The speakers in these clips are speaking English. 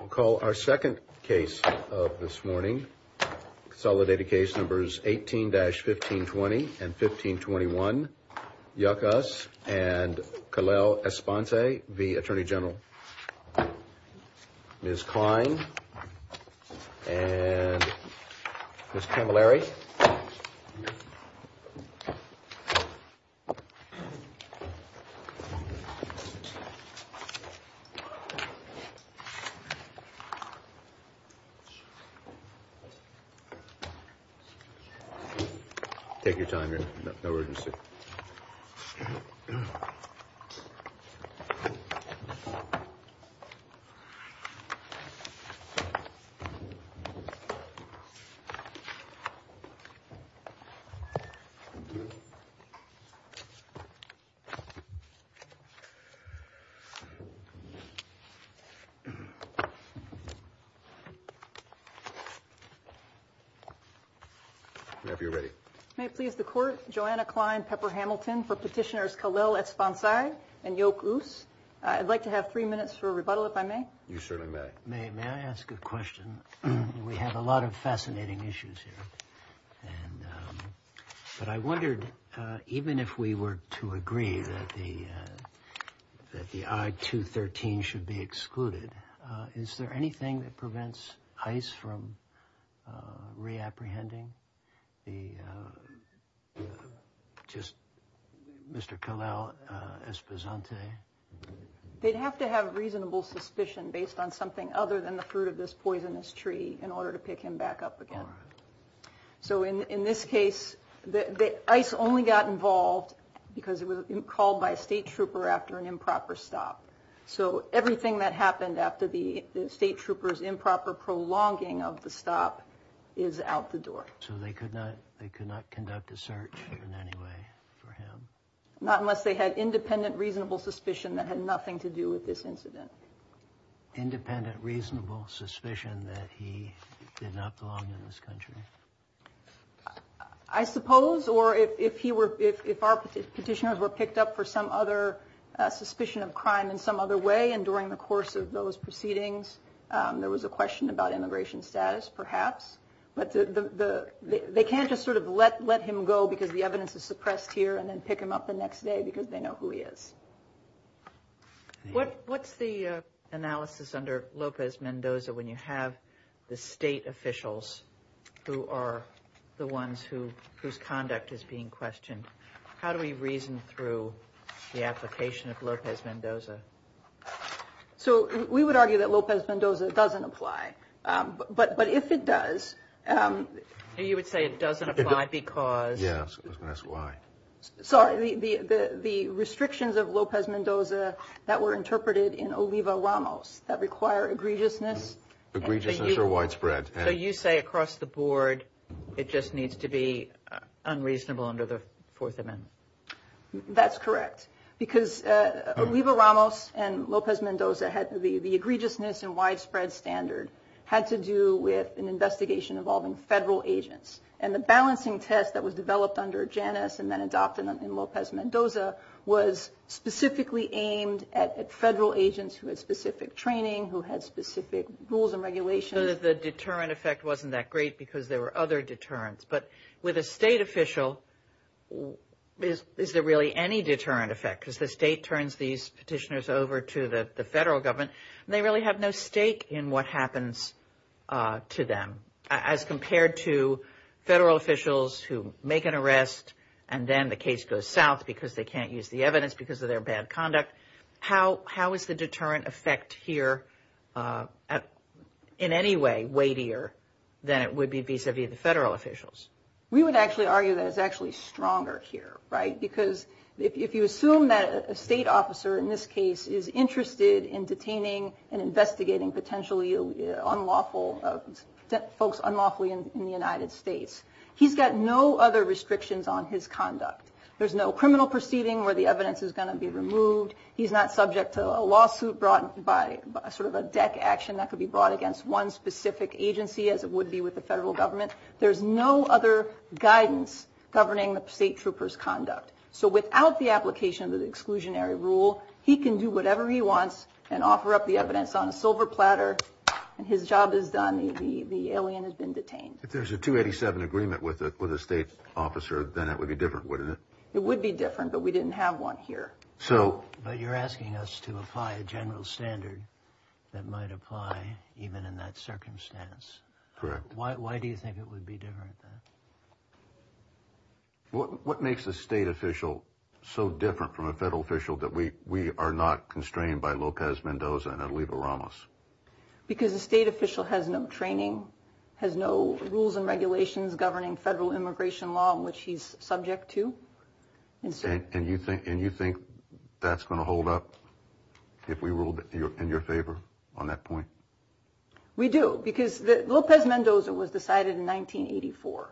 We'll call our second case of this morning. Consolidated case numbers 18-1520 and 1521, Yoc-Us and Kalel Esponsa v. Attorney General. Ms. Kline and Ms. Camilleri. Take your time, no urgency. May I ask a question? We have a lot of fascinating issues here, but I wondered, even if we were to agree that the I-213 should be excluded, is there anything that prevents ICE from re-apprehending Mr. Kalel Esposante? They'd have to have reasonable suspicion based on something other than the fruit of this poisonous tree in order to pick him back up again. So in this case, ICE only got involved because it was state troopers' improper prolonging of the stop is out the door. So they could not conduct a search in any way for him? Not unless they had independent reasonable suspicion that had nothing to do with this incident. Independent reasonable suspicion that he did not belong in this country? I suppose, or if our petitioners were picked up for some other way and during the course of those proceedings, there was a question about immigration status, perhaps. But they can't just sort of let him go because the evidence is suppressed here and then pick him up the next day because they know who he is. What's the analysis under Lopez-Mendoza when you have the state officials who are the ones whose conduct is being questioned? How do we reason through the application of Lopez-Mendoza? So we would argue that Lopez-Mendoza doesn't apply. But if it does... You would say it doesn't apply because... Yes, that's why. Sorry, the restrictions of Lopez-Mendoza that were interpreted in Oliva-Ramos that require egregiousness... Egregiousness are widespread. So you say across the board it just needs to be unreasonable under the Fourth Amendment? That's correct. Because Oliva-Ramos and Lopez-Mendoza, the egregiousness and widespread standard had to do with an investigation involving federal agents. And the balancing test that was developed under Janus and then adopted in Lopez-Mendoza was specifically aimed at federal agents who had specific training, who had specific rules and regulations. The deterrent effect wasn't that great because there were other deterrents. But with a state official, is there really any deterrent effect? Because the state turns these petitioners over to the federal government and they really have no stake in what happens to them. As compared to federal officials who make an arrest and then the case goes south because they can't use the deterrent effect here in any way weightier than it would be vis-a-vis the federal officials. We would actually argue that it's actually stronger here, right? Because if you assume that a state officer in this case is interested in detaining and investigating potentially folks unlawfully in the United States, he's got no other restrictions on his conduct. There's no criminal proceeding where the evidence is going to be removed. He's not subject to a lawsuit brought by sort of a deck action that could be brought against one specific agency as it would be with the federal government. There's no other guidance governing the state trooper's conduct. So without the application of the exclusionary rule, he can do whatever he wants and offer up the evidence on a silver platter. And his job is done. The alien has been detained. If there's a 287 agreement with a state officer, then it would be different, wouldn't it? It would be different, but we didn't have one here. But you're asking us to apply a general standard that might apply even in that circumstance. Correct. Why do you think it would be different? What makes a state official so different from a federal official that we are not constrained by Lopez Mendoza and Oliva Ramos? Because the state official has no training, has no rules and regulations governing federal immigration law in which he's subject to. And you think that's going to hold up if we ruled in your favor on that point? We do, because Lopez Mendoza was decided in 1984.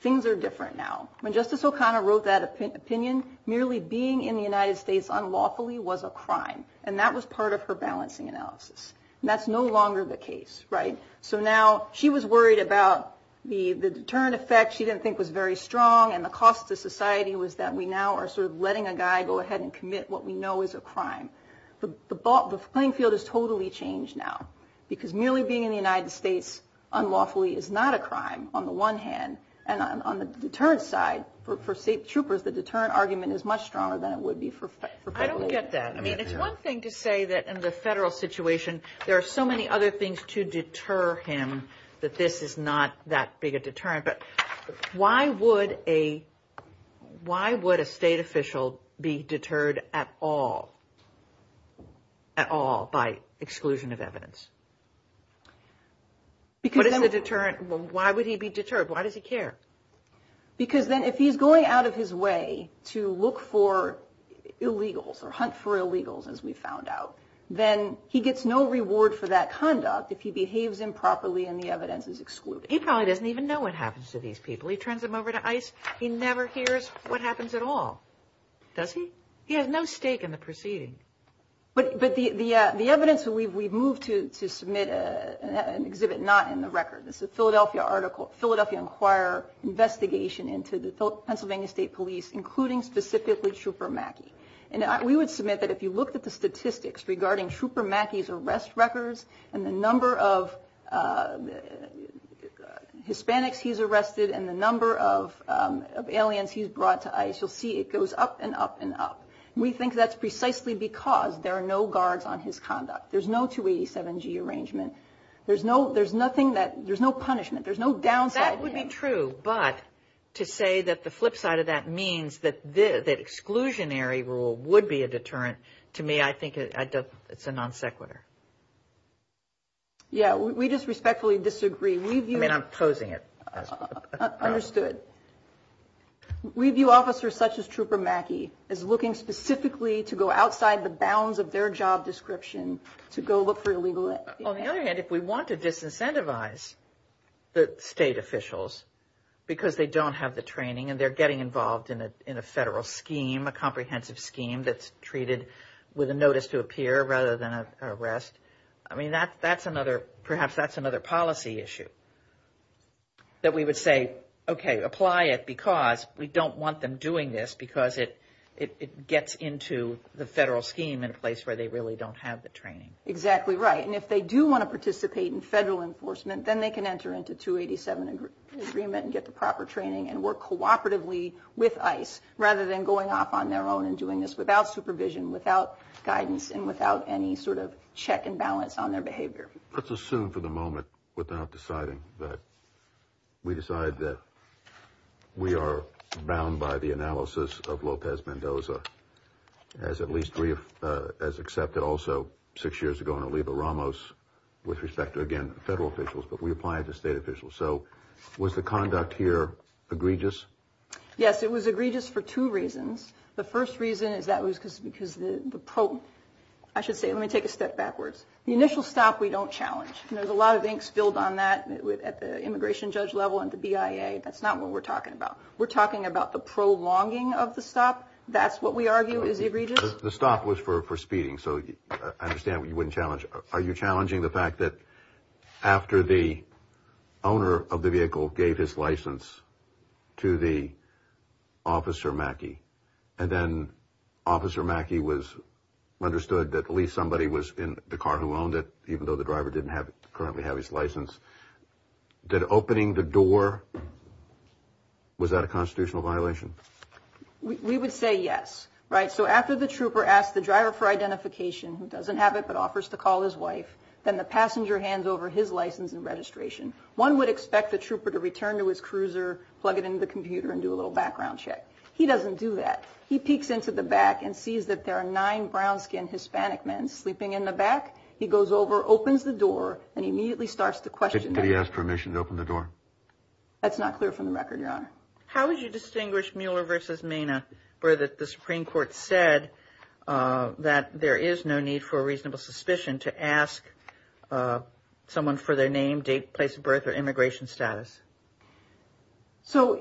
Things are different now. When Justice O'Connor wrote that opinion, merely being in the United States unlawfully was a crime, and that was part of her balancing analysis. And that's no longer the case, right? So now she was worried about the deterrent effect she didn't think was very strong, and the cost to society was that we now are sort of letting a guy go ahead and commit what we know is a crime. The playing field has totally changed now, because merely being in the United States unlawfully is not a crime on the one hand. And on the deterrent side, for state troopers, the deterrent argument is much stronger than it would be for federal. I don't get that. I mean, it's one thing to say that in the federal situation, there are so many other things to deter him that this is not that big a deterrent. But why would a state official be deterred at all by exclusion of evidence? Why would he be deterred? Why does he care? Because then if he's going out of his way to look for illegals or hunt for illegals, as we found out, then he gets no reward for that conduct if he behaves improperly and the evidence is excluded. He probably doesn't even know what happens to these people. He turns them over to ICE. He never hears what happens at all. Does he? He has no stake in the proceeding. But the evidence we've moved to submit an exhibit not in the record. This is a Philadelphia article, Philadelphia Inquirer investigation into the Pennsylvania State Police, including specifically Trooper Mackey. And we would submit that if you looked at the statistics regarding Trooper Mackey's arrest records and the number of Hispanics he's arrested and the number of aliens he's brought to ICE, you'll see it goes up and up and up. We think that's precisely because there are no guards on his conduct. There's no 287G arrangement. There's no punishment. There's no downside. That would be true. But to say that the flip side of that means that exclusionary rule would be a deterrent, to me, I think it's a non sequitur. Yeah, we just respectfully disagree. I mean, I'm posing it. Understood. We view officers such as Trooper Mackey as looking specifically to go outside the bounds of their job description to go look for illegal. On the other hand, if we want to disincentivize the state officials because they don't have the training and they're getting involved in a federal scheme, a comprehensive scheme that's treated with a notice to appear rather than an arrest, I mean, that's another, perhaps that's another policy issue. That we would say, OK, apply it because we don't want them doing this because it gets into the federal scheme in a place where they really don't have the training. Exactly right. And if they do want to participate in federal enforcement, then they can enter into the 287 agreement and get the proper training and work cooperatively with ICE rather than going off on their own and doing this without supervision, without guidance and without any sort of check and balance on their behavior. Let's assume for the moment without deciding that we decide that we are bound by the analysis of Lopez Mendoza as at least as accepted also six years ago in Oliva Ramos with respect to, again, federal officials. But we apply it to federal officials. So was the conduct here egregious? Yes, it was egregious for two reasons. The first reason is that was because the pro I should say, let me take a step backwards. The initial stop, we don't challenge. And there's a lot of inks filled on that at the immigration judge level and the BIA. That's not what we're talking about. We're talking about the prolonging of the stop. That's what we argue is egregious. The stop was for for speeding. So I understand you wouldn't challenge. Are you challenging the fact that after the owner of the vehicle gave his license to the officer Mackey and then officer Mackey was understood that at least somebody was in the car who owned it, even though the driver didn't have currently have his license, did opening the door. Was that a constitutional violation? We would say yes. Right. So after the trooper asked the driver for identification who doesn't have it, but offers to call his wife, then the passenger hands over his license and registration. One would expect the trooper to return to his cruiser, plug it into the computer and do a little background check. He doesn't do that. He peeks into the back and sees that there are nine brown skinned Hispanic men sleeping in the back. He goes over, opens the door and immediately starts to question. Did he ask permission to open the door? That's not clear from the record, Your Honor. How would you distinguish Mueller versus Mena where the Supreme Court said that there is no need for a reasonable suspicion to ask someone for their name, date, place of birth or immigration status? So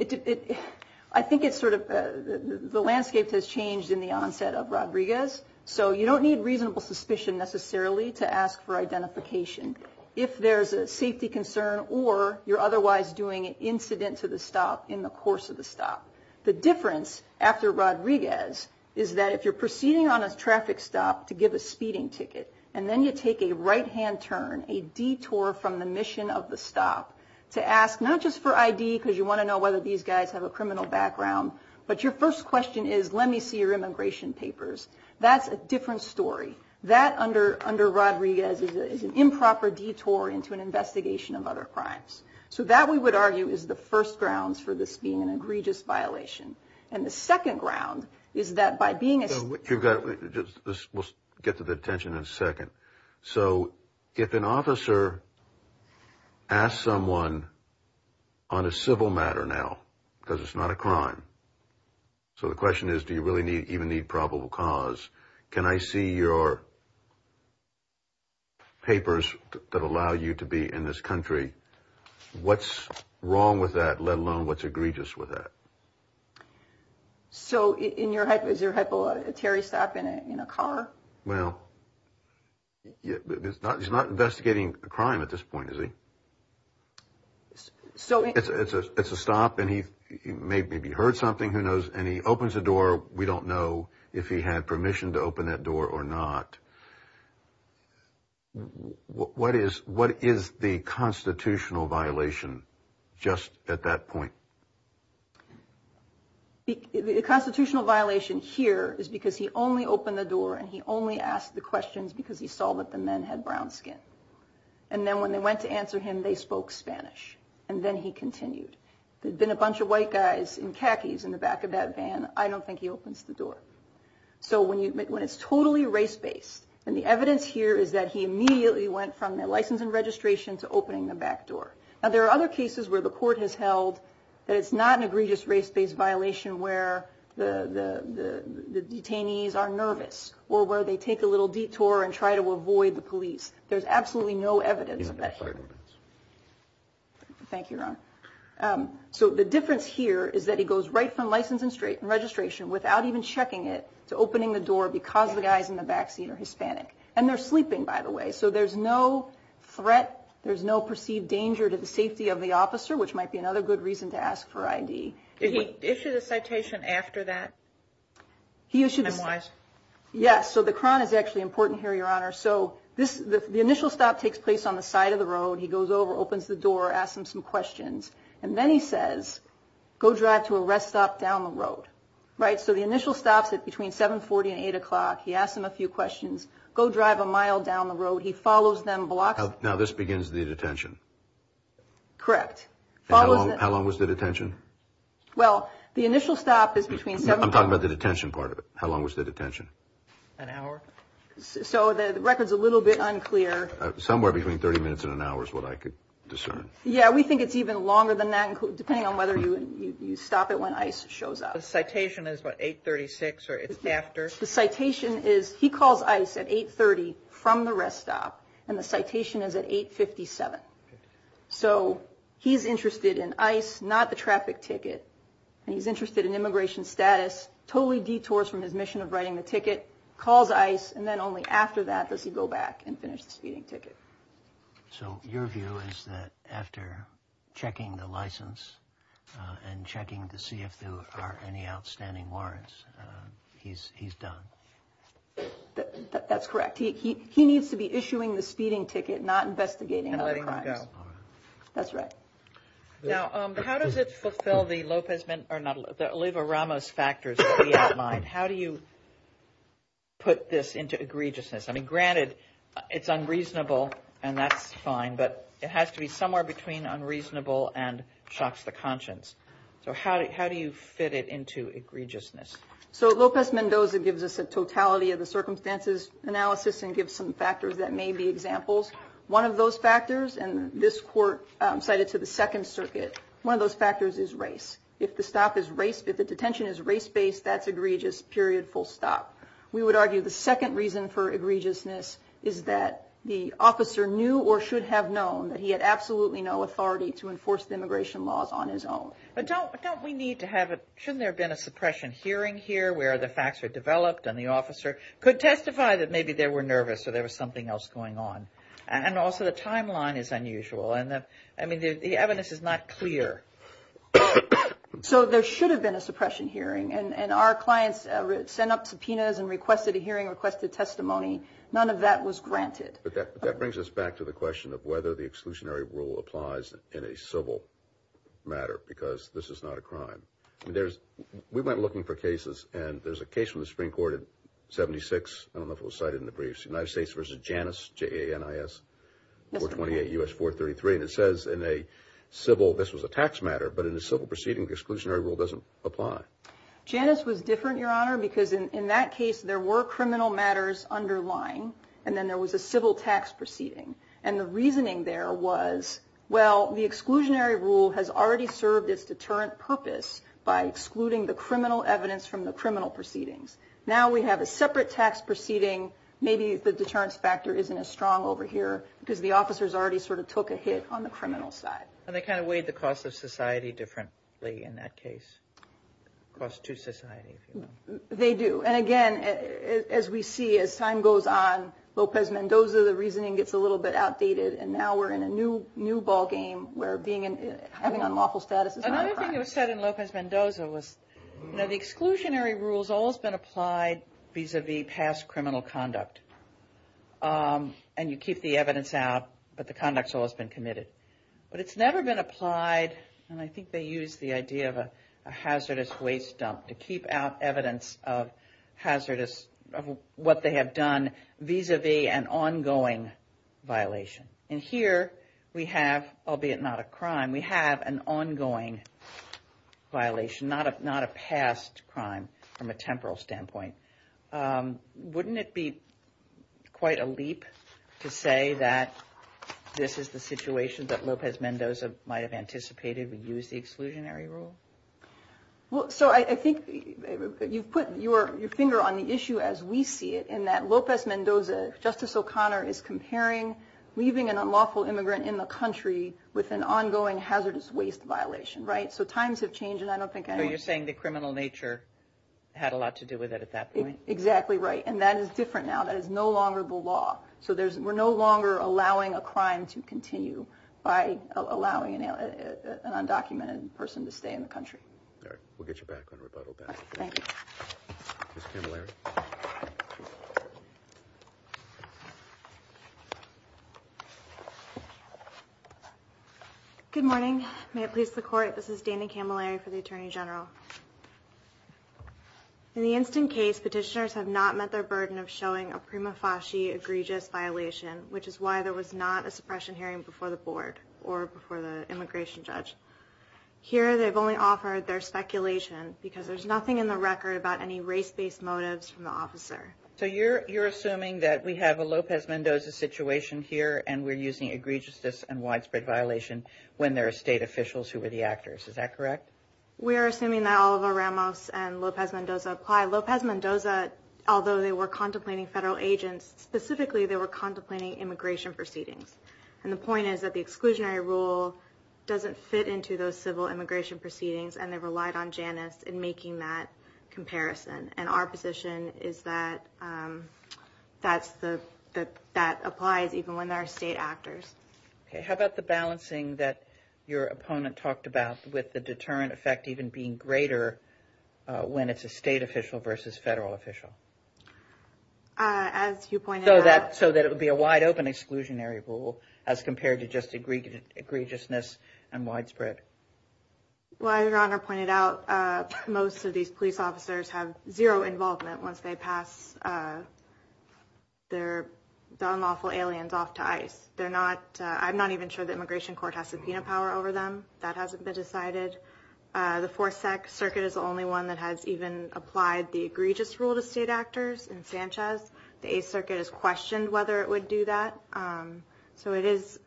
I think it's sort of the landscape has changed in the onset of Rodriguez. So you don't need reasonable suspicion necessarily to ask for identification. If there's a safety concern or you're otherwise doing an incident to the stop in the course of the stop, the difference after Rodriguez is that if you're proceeding on a traffic stop to give a speeding ticket and then you take a right hand turn, a detour from the mission of the stop to ask not just for ID because you want to know whether these guys have a criminal background, but your first question is, let me see your immigration papers. That's a different story. That under Rodriguez is an improper detour into an investigation of other crimes. So that we would argue is the first grounds for this being an egregious violation. And the second ground is that by being... So we'll get to the detention in a second. So if an officer asks someone on a civil matter now, because it's not a crime. So the question is, do you really need even need probable cause? Can I see your papers that allow you to be in this country? What's wrong with that, let alone what's egregious with that? So in your head, is there a terry stop in a car? Well, he's not investigating a crime at this point, is he? So it's a stop and he maybe heard something, who knows? And he opens the door. We don't know if he had permission to open that door or not. What is the constitutional violation just at that point? The constitutional violation here is because he only opened the door and he only asked the questions because he saw that the men had brown skin. And then when they went to answer him, they spoke Spanish. And then he continued. There'd been a bunch of white guys in khakis in the back of that van. I don't think he opens the door. So when it's totally race-based, and the evidence here is that he immediately went from the license and registration to opening the back door. Now, there are other cases where the court has held that it's not an egregious race-based violation where the detainees are nervous or where they take a little detour and try to avoid the police. There's absolutely no evidence of that. Thank you, Ron. So the difference here is that he goes right from license and registration without even checking it to opening the door because the guys in the back seat are Hispanic. And they're sleeping, by the way. So there's no threat. There's no perceived danger to the safety of the officer, which might be another good reason to ask for ID. Did he issue the citation after that? He issued it. Yes. So the crown is actually important here, Your Honor. So this the initial stop takes place on the side of the road. He goes over, opens the door, asks him some questions. And then he says, go drive to a rest stop down the road. Right. So the initial stops at between 740 and 8 o'clock. He asks him a few questions. Go drive a mile down the road. He follows them. Now, this begins the detention. Correct. How long was the detention? Well, the initial stop is between seven. I'm talking about the detention part of it. How long was the detention? An hour. So the record's a little bit unclear. Somewhere between 30 minutes and an hour is what I could discern. Yeah. We think it's even longer than that, depending on you stop it when ICE shows up. The citation is what, 836 or it's after? The citation is, he calls ICE at 830 from the rest stop. And the citation is at 857. So he's interested in ICE, not the traffic ticket. And he's interested in immigration status, totally detours from his mission of writing the ticket, calls ICE. And then only after that does he go back and finish speeding ticket. So your view is that after checking the license and checking to see if there are any outstanding warrants, he's done. That's correct. He needs to be issuing the speeding ticket, not investigating. And letting him go. That's right. Now, how does it fulfill the Lopez or not, the Oliva-Ramos factors that we outlined? How do you put this into egregiousness? Granted, it's unreasonable, and that's fine. But it has to be somewhere between unreasonable and shocks the conscience. So how do you fit it into egregiousness? So Lopez-Mendoza gives us a totality of the circumstances analysis and gives some factors that may be examples. One of those factors, and this court cited to the Second Circuit, one of those factors is race. If the stop is race, if the detention is race-based, that's egregious, period, full stop. We would for egregiousness is that the officer knew or should have known that he had absolutely no authority to enforce the immigration laws on his own. But don't we need to have a, shouldn't there have been a suppression hearing here where the facts are developed and the officer could testify that maybe they were nervous or there was something else going on? And also the timeline is unusual. I mean, the evidence is not clear. So there should have been a suppression hearing. And our clients sent up subpoenas and requested a hearing, requested testimony. None of that was granted. But that brings us back to the question of whether the exclusionary rule applies in a civil matter, because this is not a crime. And there's, we went looking for cases and there's a case from the Supreme Court in 76, I don't know if it was cited in the briefs, United States versus Janus, J-A-N-I-S, 428 U.S. 433. And it says in a civil, this was a tax matter, but in a civil proceeding, exclusionary rule doesn't apply. Janus was different, Your Honor, because in that case, there were criminal matters underlying, and then there was a civil tax proceeding. And the reasoning there was, well, the exclusionary rule has already served its deterrent purpose by excluding the criminal evidence from the criminal proceedings. Now we have a separate tax proceeding. Maybe the deterrence factor isn't as strong over here because the officers already sort of took a hit on the criminal side. And they kind of weighed the cost of society as we see as time goes on, Lopez Mendoza, the reasoning gets a little bit outdated, and now we're in a new ballgame where having unlawful status is not a crime. Another thing that was said in Lopez Mendoza was, you know, the exclusionary rules always been applied vis-a-vis past criminal conduct. And you keep the evidence out, but the conduct has always been committed. But it's never been applied, and I think they use the idea of a hazardous, of what they have done vis-a-vis an ongoing violation. And here we have, albeit not a crime, we have an ongoing violation, not a past crime from a temporal standpoint. Wouldn't it be quite a leap to say that this is the situation that Lopez Mendoza might have anticipated, we use the exclusionary rule? Well, so I think you've put your finger on the issue as we see it, in that Lopez Mendoza, Justice O'Connor, is comparing leaving an unlawful immigrant in the country with an ongoing hazardous waste violation, right? So times have changed, and I don't think- So you're saying the criminal nature had a lot to do with it at that point? Exactly right. And that is different now. That is no longer the law. So we're no longer allowing a crime to continue by allowing an undocumented person to stay in the country. All right. We'll get you back on rebuttal then. Thank you. Ms. Camilleri. Good morning. May it please the Court, this is Dana Camilleri for the Attorney General. In the instant case, petitioners have not met their burden of showing a prima facie egregious violation, which is why there was not a suppression hearing before the board or before the immigration judge. Here, they've only offered their speculation because there's nothing in the record about any race-based motives from the officer. So you're assuming that we have a Lopez Mendoza situation here, and we're using egregiousness and widespread violation when there are state officials who were the actors. Is that correct? We are assuming that Oliver Ramos and Lopez Mendoza apply. Lopez Mendoza, although they were contemplating federal agents, specifically they were contemplating immigration proceedings. And the point is that the exclusionary rule doesn't fit into those civil immigration proceedings, and they relied on Janus in making that comparison. And our position is that that applies even when there are state actors. Okay. How about the balancing that your opponent talked about with the deterrent effect even being greater when it's a state official versus federal official? As you pointed out... So that it would be a wide open exclusionary rule as compared to just egregiousness and widespread. Well, Your Honor pointed out most of these police officers have zero involvement once they pass the unlawful aliens off to ICE. I'm not even sure the immigration court has subpoena power over them. That hasn't been decided. The Fourth Circuit is the only one that has even applied the egregious rule to state actors in Sanchez. The Eighth Circuit has questioned whether it would do that. So it is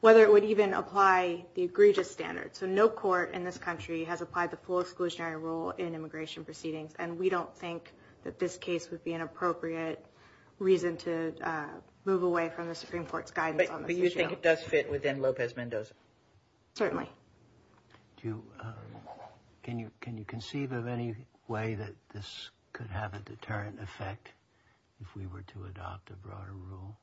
whether it would even apply the egregious standard. So no court in this country has applied the full exclusionary rule in immigration proceedings, and we don't think that this case would be an appropriate reason to move away from the Supreme Court's guidance on this issue. But you think it does fit within Lopez Mendoza? Certainly. Can you conceive of any way that this could have a deterrent effect if we were to adopt a broader rule?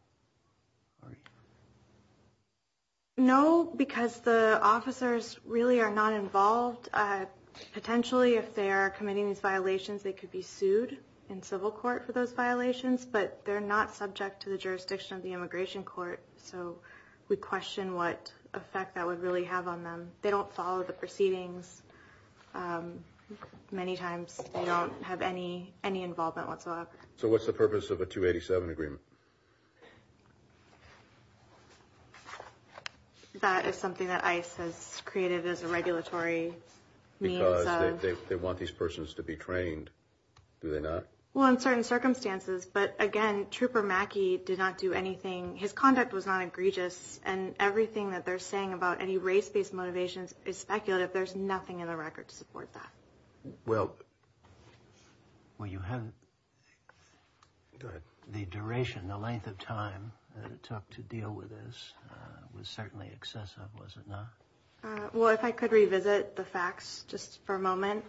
No, because the officers really are not involved. Potentially, if they are committing these violations, they could be sued in civil court for those violations, but they're not subject to the jurisdiction of the immigration court, so we question what effect that would really have on them. They don't follow the proceedings. Many times, they don't have any involvement whatsoever. So what's the purpose of a 287 agreement? That is something that ICE has created as a regulatory means of... Because they want these persons to be trained, do they not? Well, in certain circumstances, but again, Trooper Mackey did not do anything. His conduct was not egregious, and everything that they're saying about any race-based motivations is speculative. There's nothing in the record to support that. Well, well, you haven't... Go ahead. The duration, the length of time that it took to deal with this was certainly excessive, was it not? Well, if I could revisit the facts just for a moment.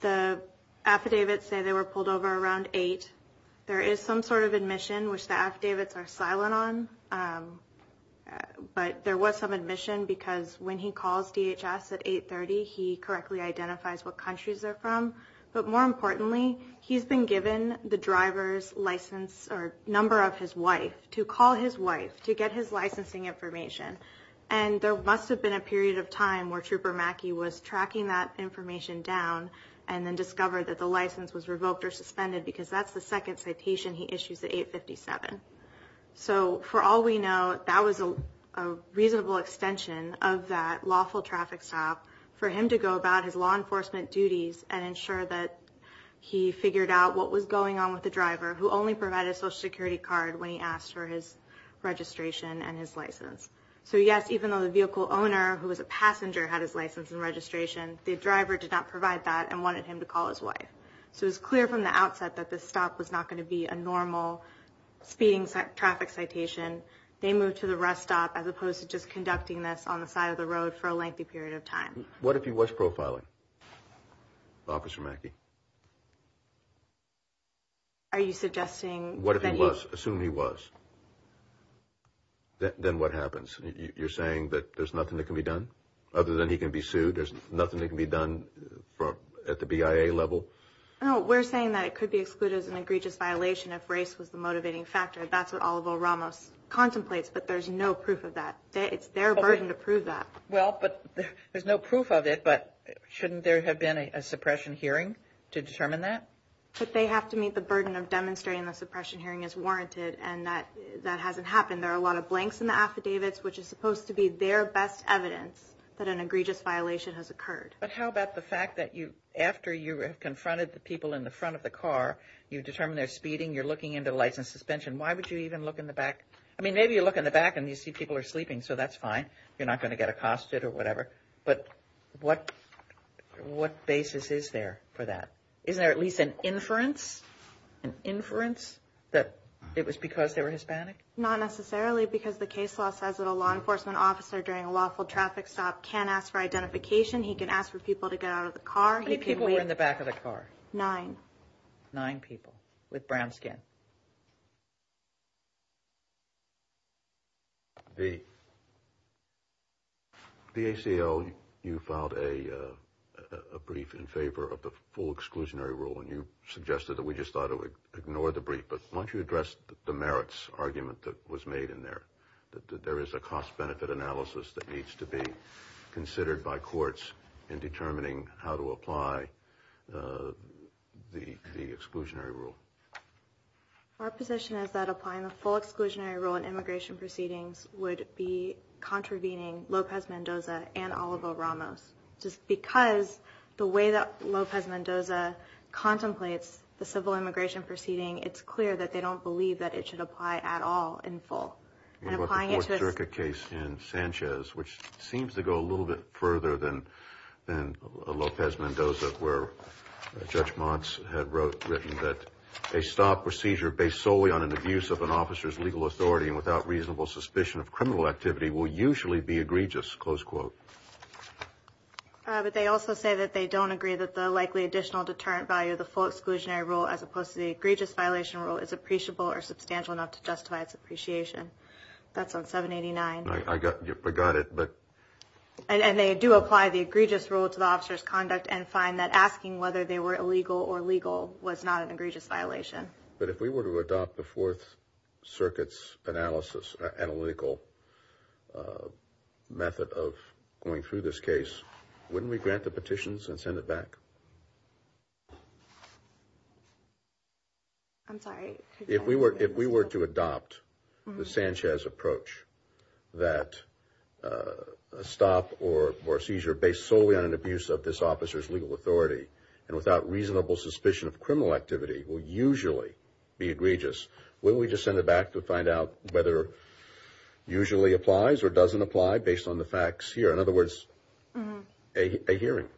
The affidavits say they were pulled over around 8. There is some sort of admission, which the affidavits are silent on, but there was some admission because when he calls DHS at 8.30, he correctly identifies what countries they're from. But more importantly, he's been given the driver's license or number of his information. And there must have been a period of time where Trooper Mackey was tracking that information down and then discovered that the license was revoked or suspended because that's the second citation he issues at 8.57. So for all we know, that was a reasonable extension of that lawful traffic stop for him to go about his law enforcement duties and ensure that he figured out what was going on with the driver who only provided a social security card when he asked for his registration and his license. So yes, even though the vehicle owner, who was a passenger, had his license and registration, the driver did not provide that and wanted him to call his wife. So it's clear from the outset that this stop was not going to be a normal speeding traffic citation. They moved to the rest stop as opposed to just conducting this on the side of the road for a lengthy period of time. What if he was profiling Officer Mackey? Are you suggesting... What if he was? Assume he was. Then what happens? You're saying that there's nothing that can be done? Other than he can be sued, there's nothing that can be done at the BIA level? No, we're saying that it could be excluded as an egregious violation if race was the motivating factor. That's what Oliver Ramos contemplates, but there's no proof of that. It's their burden to prove that. Well, but there's no proof of it, but shouldn't there have been a suppression hearing to determine that? But they have to meet the burden of demonstrating the suppression hearing is warranted, and that hasn't happened. There are a lot of blanks in the affidavits, which is supposed to be their best evidence that an egregious violation has occurred. But how about the fact that after you have confronted the people in the front of the car, you determine they're speeding, you're looking into the lights and suspension, why would you even look in the back? I mean, maybe you look in the back and you see people are sleeping, so that's fine. You're not going to get accosted or whatever, but what basis is there for that? Isn't there at least an inference that it was because they were Hispanic? Not necessarily, because the case law says that a law enforcement officer during a lawful traffic stop can ask for identification. He can ask for people to get out of the car. How many people were in the back of the car? Nine. Nine people with brown skin. The ACL, you filed a brief in favor of the full exclusionary rule, and you suggested that we just thought it would ignore the brief. But why don't you address the merits argument that was made in there? There is a cost-benefit analysis that needs to be considered by courts in determining how to apply the exclusionary rule. Our position is that applying the full exclusionary rule in immigration proceedings would be contravening Lopez Mendoza and Oliver Ramos. Just because the way that Lopez Mendoza contemplates the civil immigration proceeding, it's clear that they don't believe that it should apply at all in full. And applying it to a- What about the Fort Jericho case in Sanchez, which seems to go a little bit further than Lopez Mendoza, where Judge Montz had written that a stop or seizure based solely on an abuse of an officer's legal authority and without reasonable suspicion of criminal activity will usually be egregious, close quote. But they also say that they don't agree that the likely additional deterrent value of the full exclusionary rule as opposed to the egregious violation rule is appreciable or substantial enough to justify its appreciation. That's on 789. I got it, but- And find that asking whether they were illegal or legal was not an egregious violation. But if we were to adopt the Fourth Circuit's analysis, analytical method of going through this case, wouldn't we grant the petitions and send it back? I'm sorry. If we were to adopt the Sanchez approach, that a stop or seizure based solely on an abuse of this officer's legal authority and without reasonable suspicion of criminal activity will usually be egregious, wouldn't we just send it back to find out whether usually applies or doesn't apply based on the facts here? In other words, a hearing,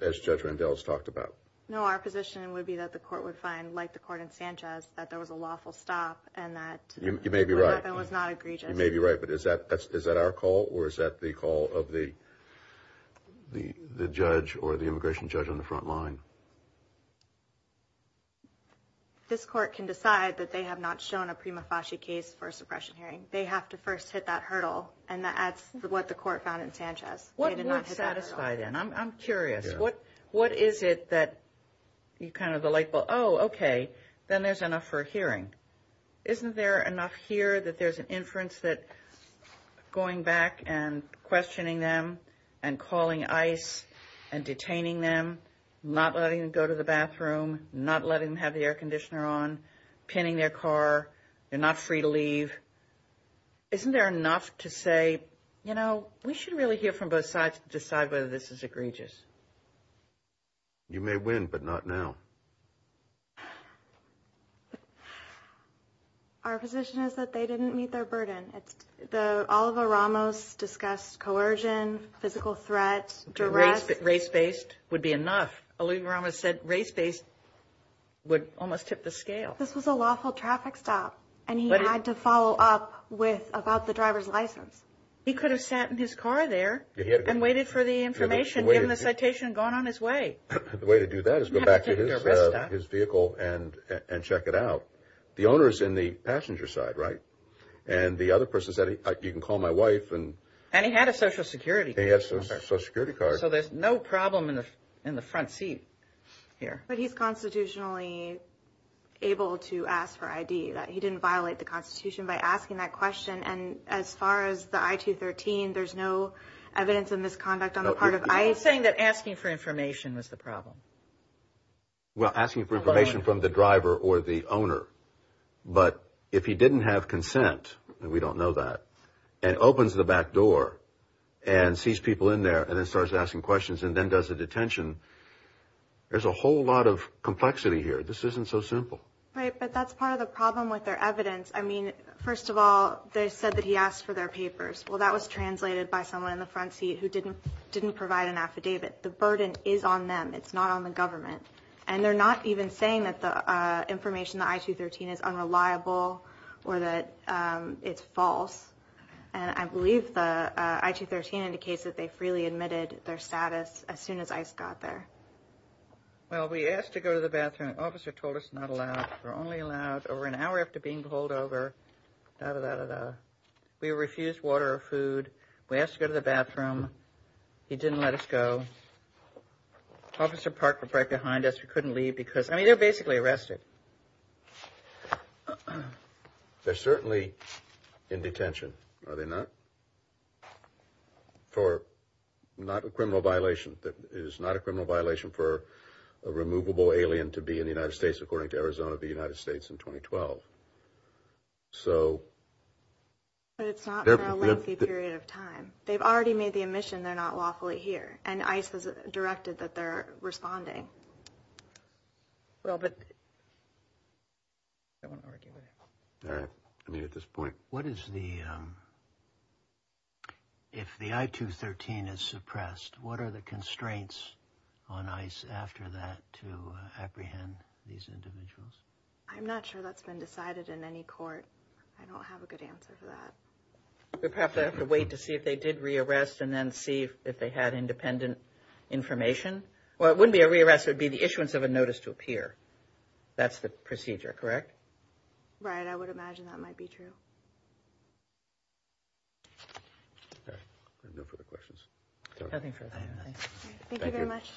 as Judge Randells talked about. No, our position would be that the court would find, like the court in Sanchez, that there was a lawful stop and that- You may be right. What happened was not egregious. You may be right, but is that our call or is that the call of the judge or the immigration judge on the front line? This court can decide that they have not shown a prima facie case for a suppression hearing. They have to first hit that hurdle. And that's what the court found in Sanchez. What would satisfy then? I'm curious. What is it that you kind of like, oh, okay, then there's enough for a hearing. Isn't there enough here that there's an inference that going back and questioning them and calling ICE and detaining them, not letting them go to the bathroom, not letting them have the air conditioner on, pinning their car, they're not free to leave. Isn't there enough to say, you know, we should really hear from both sides to decide whether this is egregious? You may win, but not now. Our position is that they didn't meet their burden. It's the Oliver Ramos discussed coercion, physical threats, duress. Race-based would be enough. Oliver Ramos said race-based would almost tip the scale. This was a lawful traffic stop, and he had to follow up with about the driver's license. He could have sat in his car there and waited for the information given the citation going on his way. The way to do that is go back to his vehicle and check it out. The owner is in the passenger side, right? And the other person said, you can call my wife. And he had a Social Security card. He has a Social Security card. So there's no problem in the front seat here. But he's constitutionally able to ask for ID. He didn't violate the Constitution by asking that question. And as far as the I-213, there's no evidence of misconduct on the part of ICE. You're saying that asking for information was the problem. Well, asking for information from the driver or the owner. But if he didn't have consent, and we don't know that, and opens the back door and sees people in there and then starts asking questions and then does a detention, there's a whole lot of complexity here. This isn't so simple. Right, but that's part of the problem with their evidence. I mean, first of all, they said that he asked for their papers. Well, that was translated by someone in the front seat who didn't provide an affidavit. The burden is on them. It's not on the driver. And they're not even saying that the information, the I-213 is unreliable or that it's false. And I believe the I-213 indicates that they freely admitted their status as soon as ICE got there. Well, we asked to go to the bathroom. Officer told us not allowed. We're only allowed over an hour after being pulled over. We refused water or food. We asked to go to the bathroom. He didn't let us go. And Officer Park was right behind us. We couldn't leave because, I mean, they're basically arrested. They're certainly in detention, are they not? For not a criminal violation. It is not a criminal violation for a removable alien to be in the United States, according to Arizona, of the United States in 2012. So. But it's not for a lengthy period of time. They've already made the admission they're not lawfully here. And ICE has directed that they're responding. Well, but. I don't want to argue with him. All right. I mean, at this point, what is the. If the I-213 is suppressed, what are the constraints on ICE after that to apprehend these individuals? I'm not sure that's been decided in any court. I don't have a good answer for that. We perhaps have to wait to see if they did re-arrest and then see if they had independent information. Well, it wouldn't be a re-arrest. It would be the issuance of a notice to appear. That's the procedure, correct? Right. I would imagine that might be true. All right. No further questions. Nothing further. Thank you very much.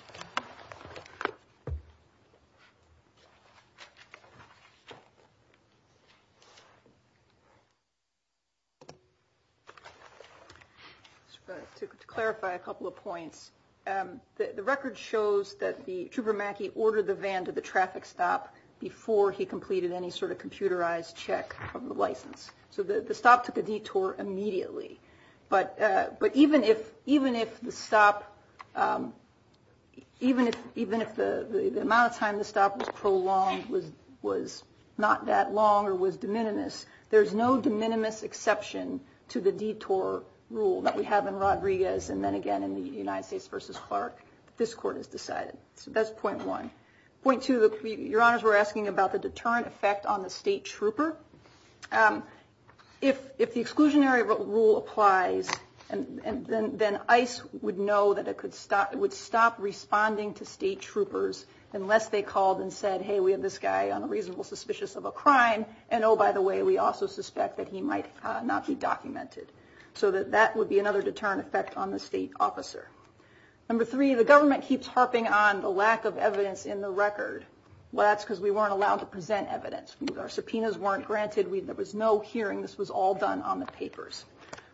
Just to clarify a couple of points. The record shows that the trooper Mackey ordered the van to the traffic stop before he completed any sort of computerized check of the license. So the stop took a detour immediately. But even if the amount of time the stop was prolonged was not that long or was de minimis, there's no de minimis exception to the detour rule that we have in Rodriguez and then again in the United States versus Clark. This court has decided. So that's point one. Point two, your honors, we're asking about the deterrent effect on the state trooper. If the exclusionary rule applies, then ICE would know that it would stop responding to state troopers unless they called and said, hey, we have this guy on a reasonable suspicious of a crime. And oh, by the way, we also suspect that he might not be documented. So that would be another deterrent effect on the state officer. Number three, the government keeps harping on the lack of evidence in the record. Well, that's because we weren't allowed to present evidence. Our subpoenas weren't granted. There was no hearing. This was all done on the papers.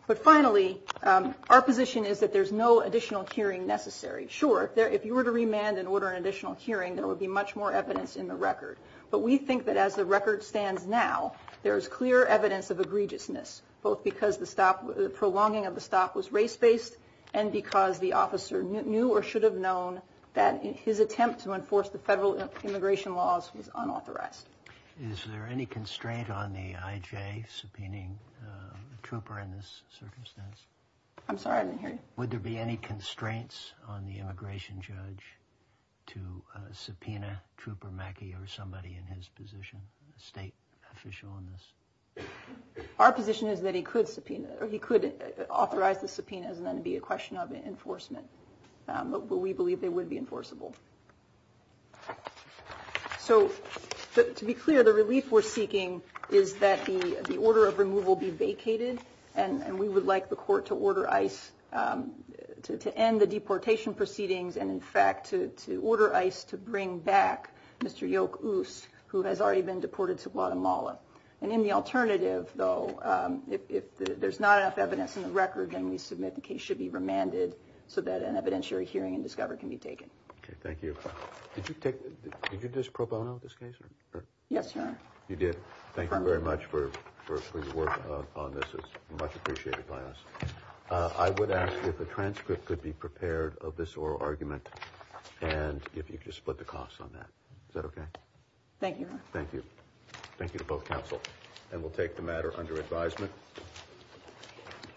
But finally, our position is that there's no additional hearing necessary. Sure, if you were to remand and order an additional hearing, there would be much more evidence in the record. But we think that as the record stands now, there is clear evidence of egregiousness, both because the stop, the prolonging of the stop was race based and because the officer knew or should have known that his attempt to enforce the federal immigration laws was unauthorized. Is there any constraint on the IJ subpoenaing the trooper in this circumstance? I'm sorry, I didn't hear you. Would there be any constraints on the immigration judge to subpoena Trooper Mackey or somebody in his position, a state official in this? Our position is that he could authorize the subpoenas and then it would be a question of enforcement. But we believe they would be enforceable. So to be clear, the relief we're seeking is that the order of removal be vacated. And we would like the court to order ICE to end the deportation proceedings. And in fact, to order ICE to bring back Mr. Yoke Ouse, who has already been deported to Guatemala. And in the alternative, though, if there's not enough evidence in the record, then we submit the case should be remanded so that an evidentiary hearing and discovery can be taken. OK, thank you. Did you just pro bono this case? Yes, sir. You did. Thank you very much for your work on this. It's much appreciated by us. I would ask if a transcript could be prepared of this oral argument and if you could just split the costs on that. Is that OK? Thank you. Thank you. Thank you to both counsel. And we'll take the matter under advisement.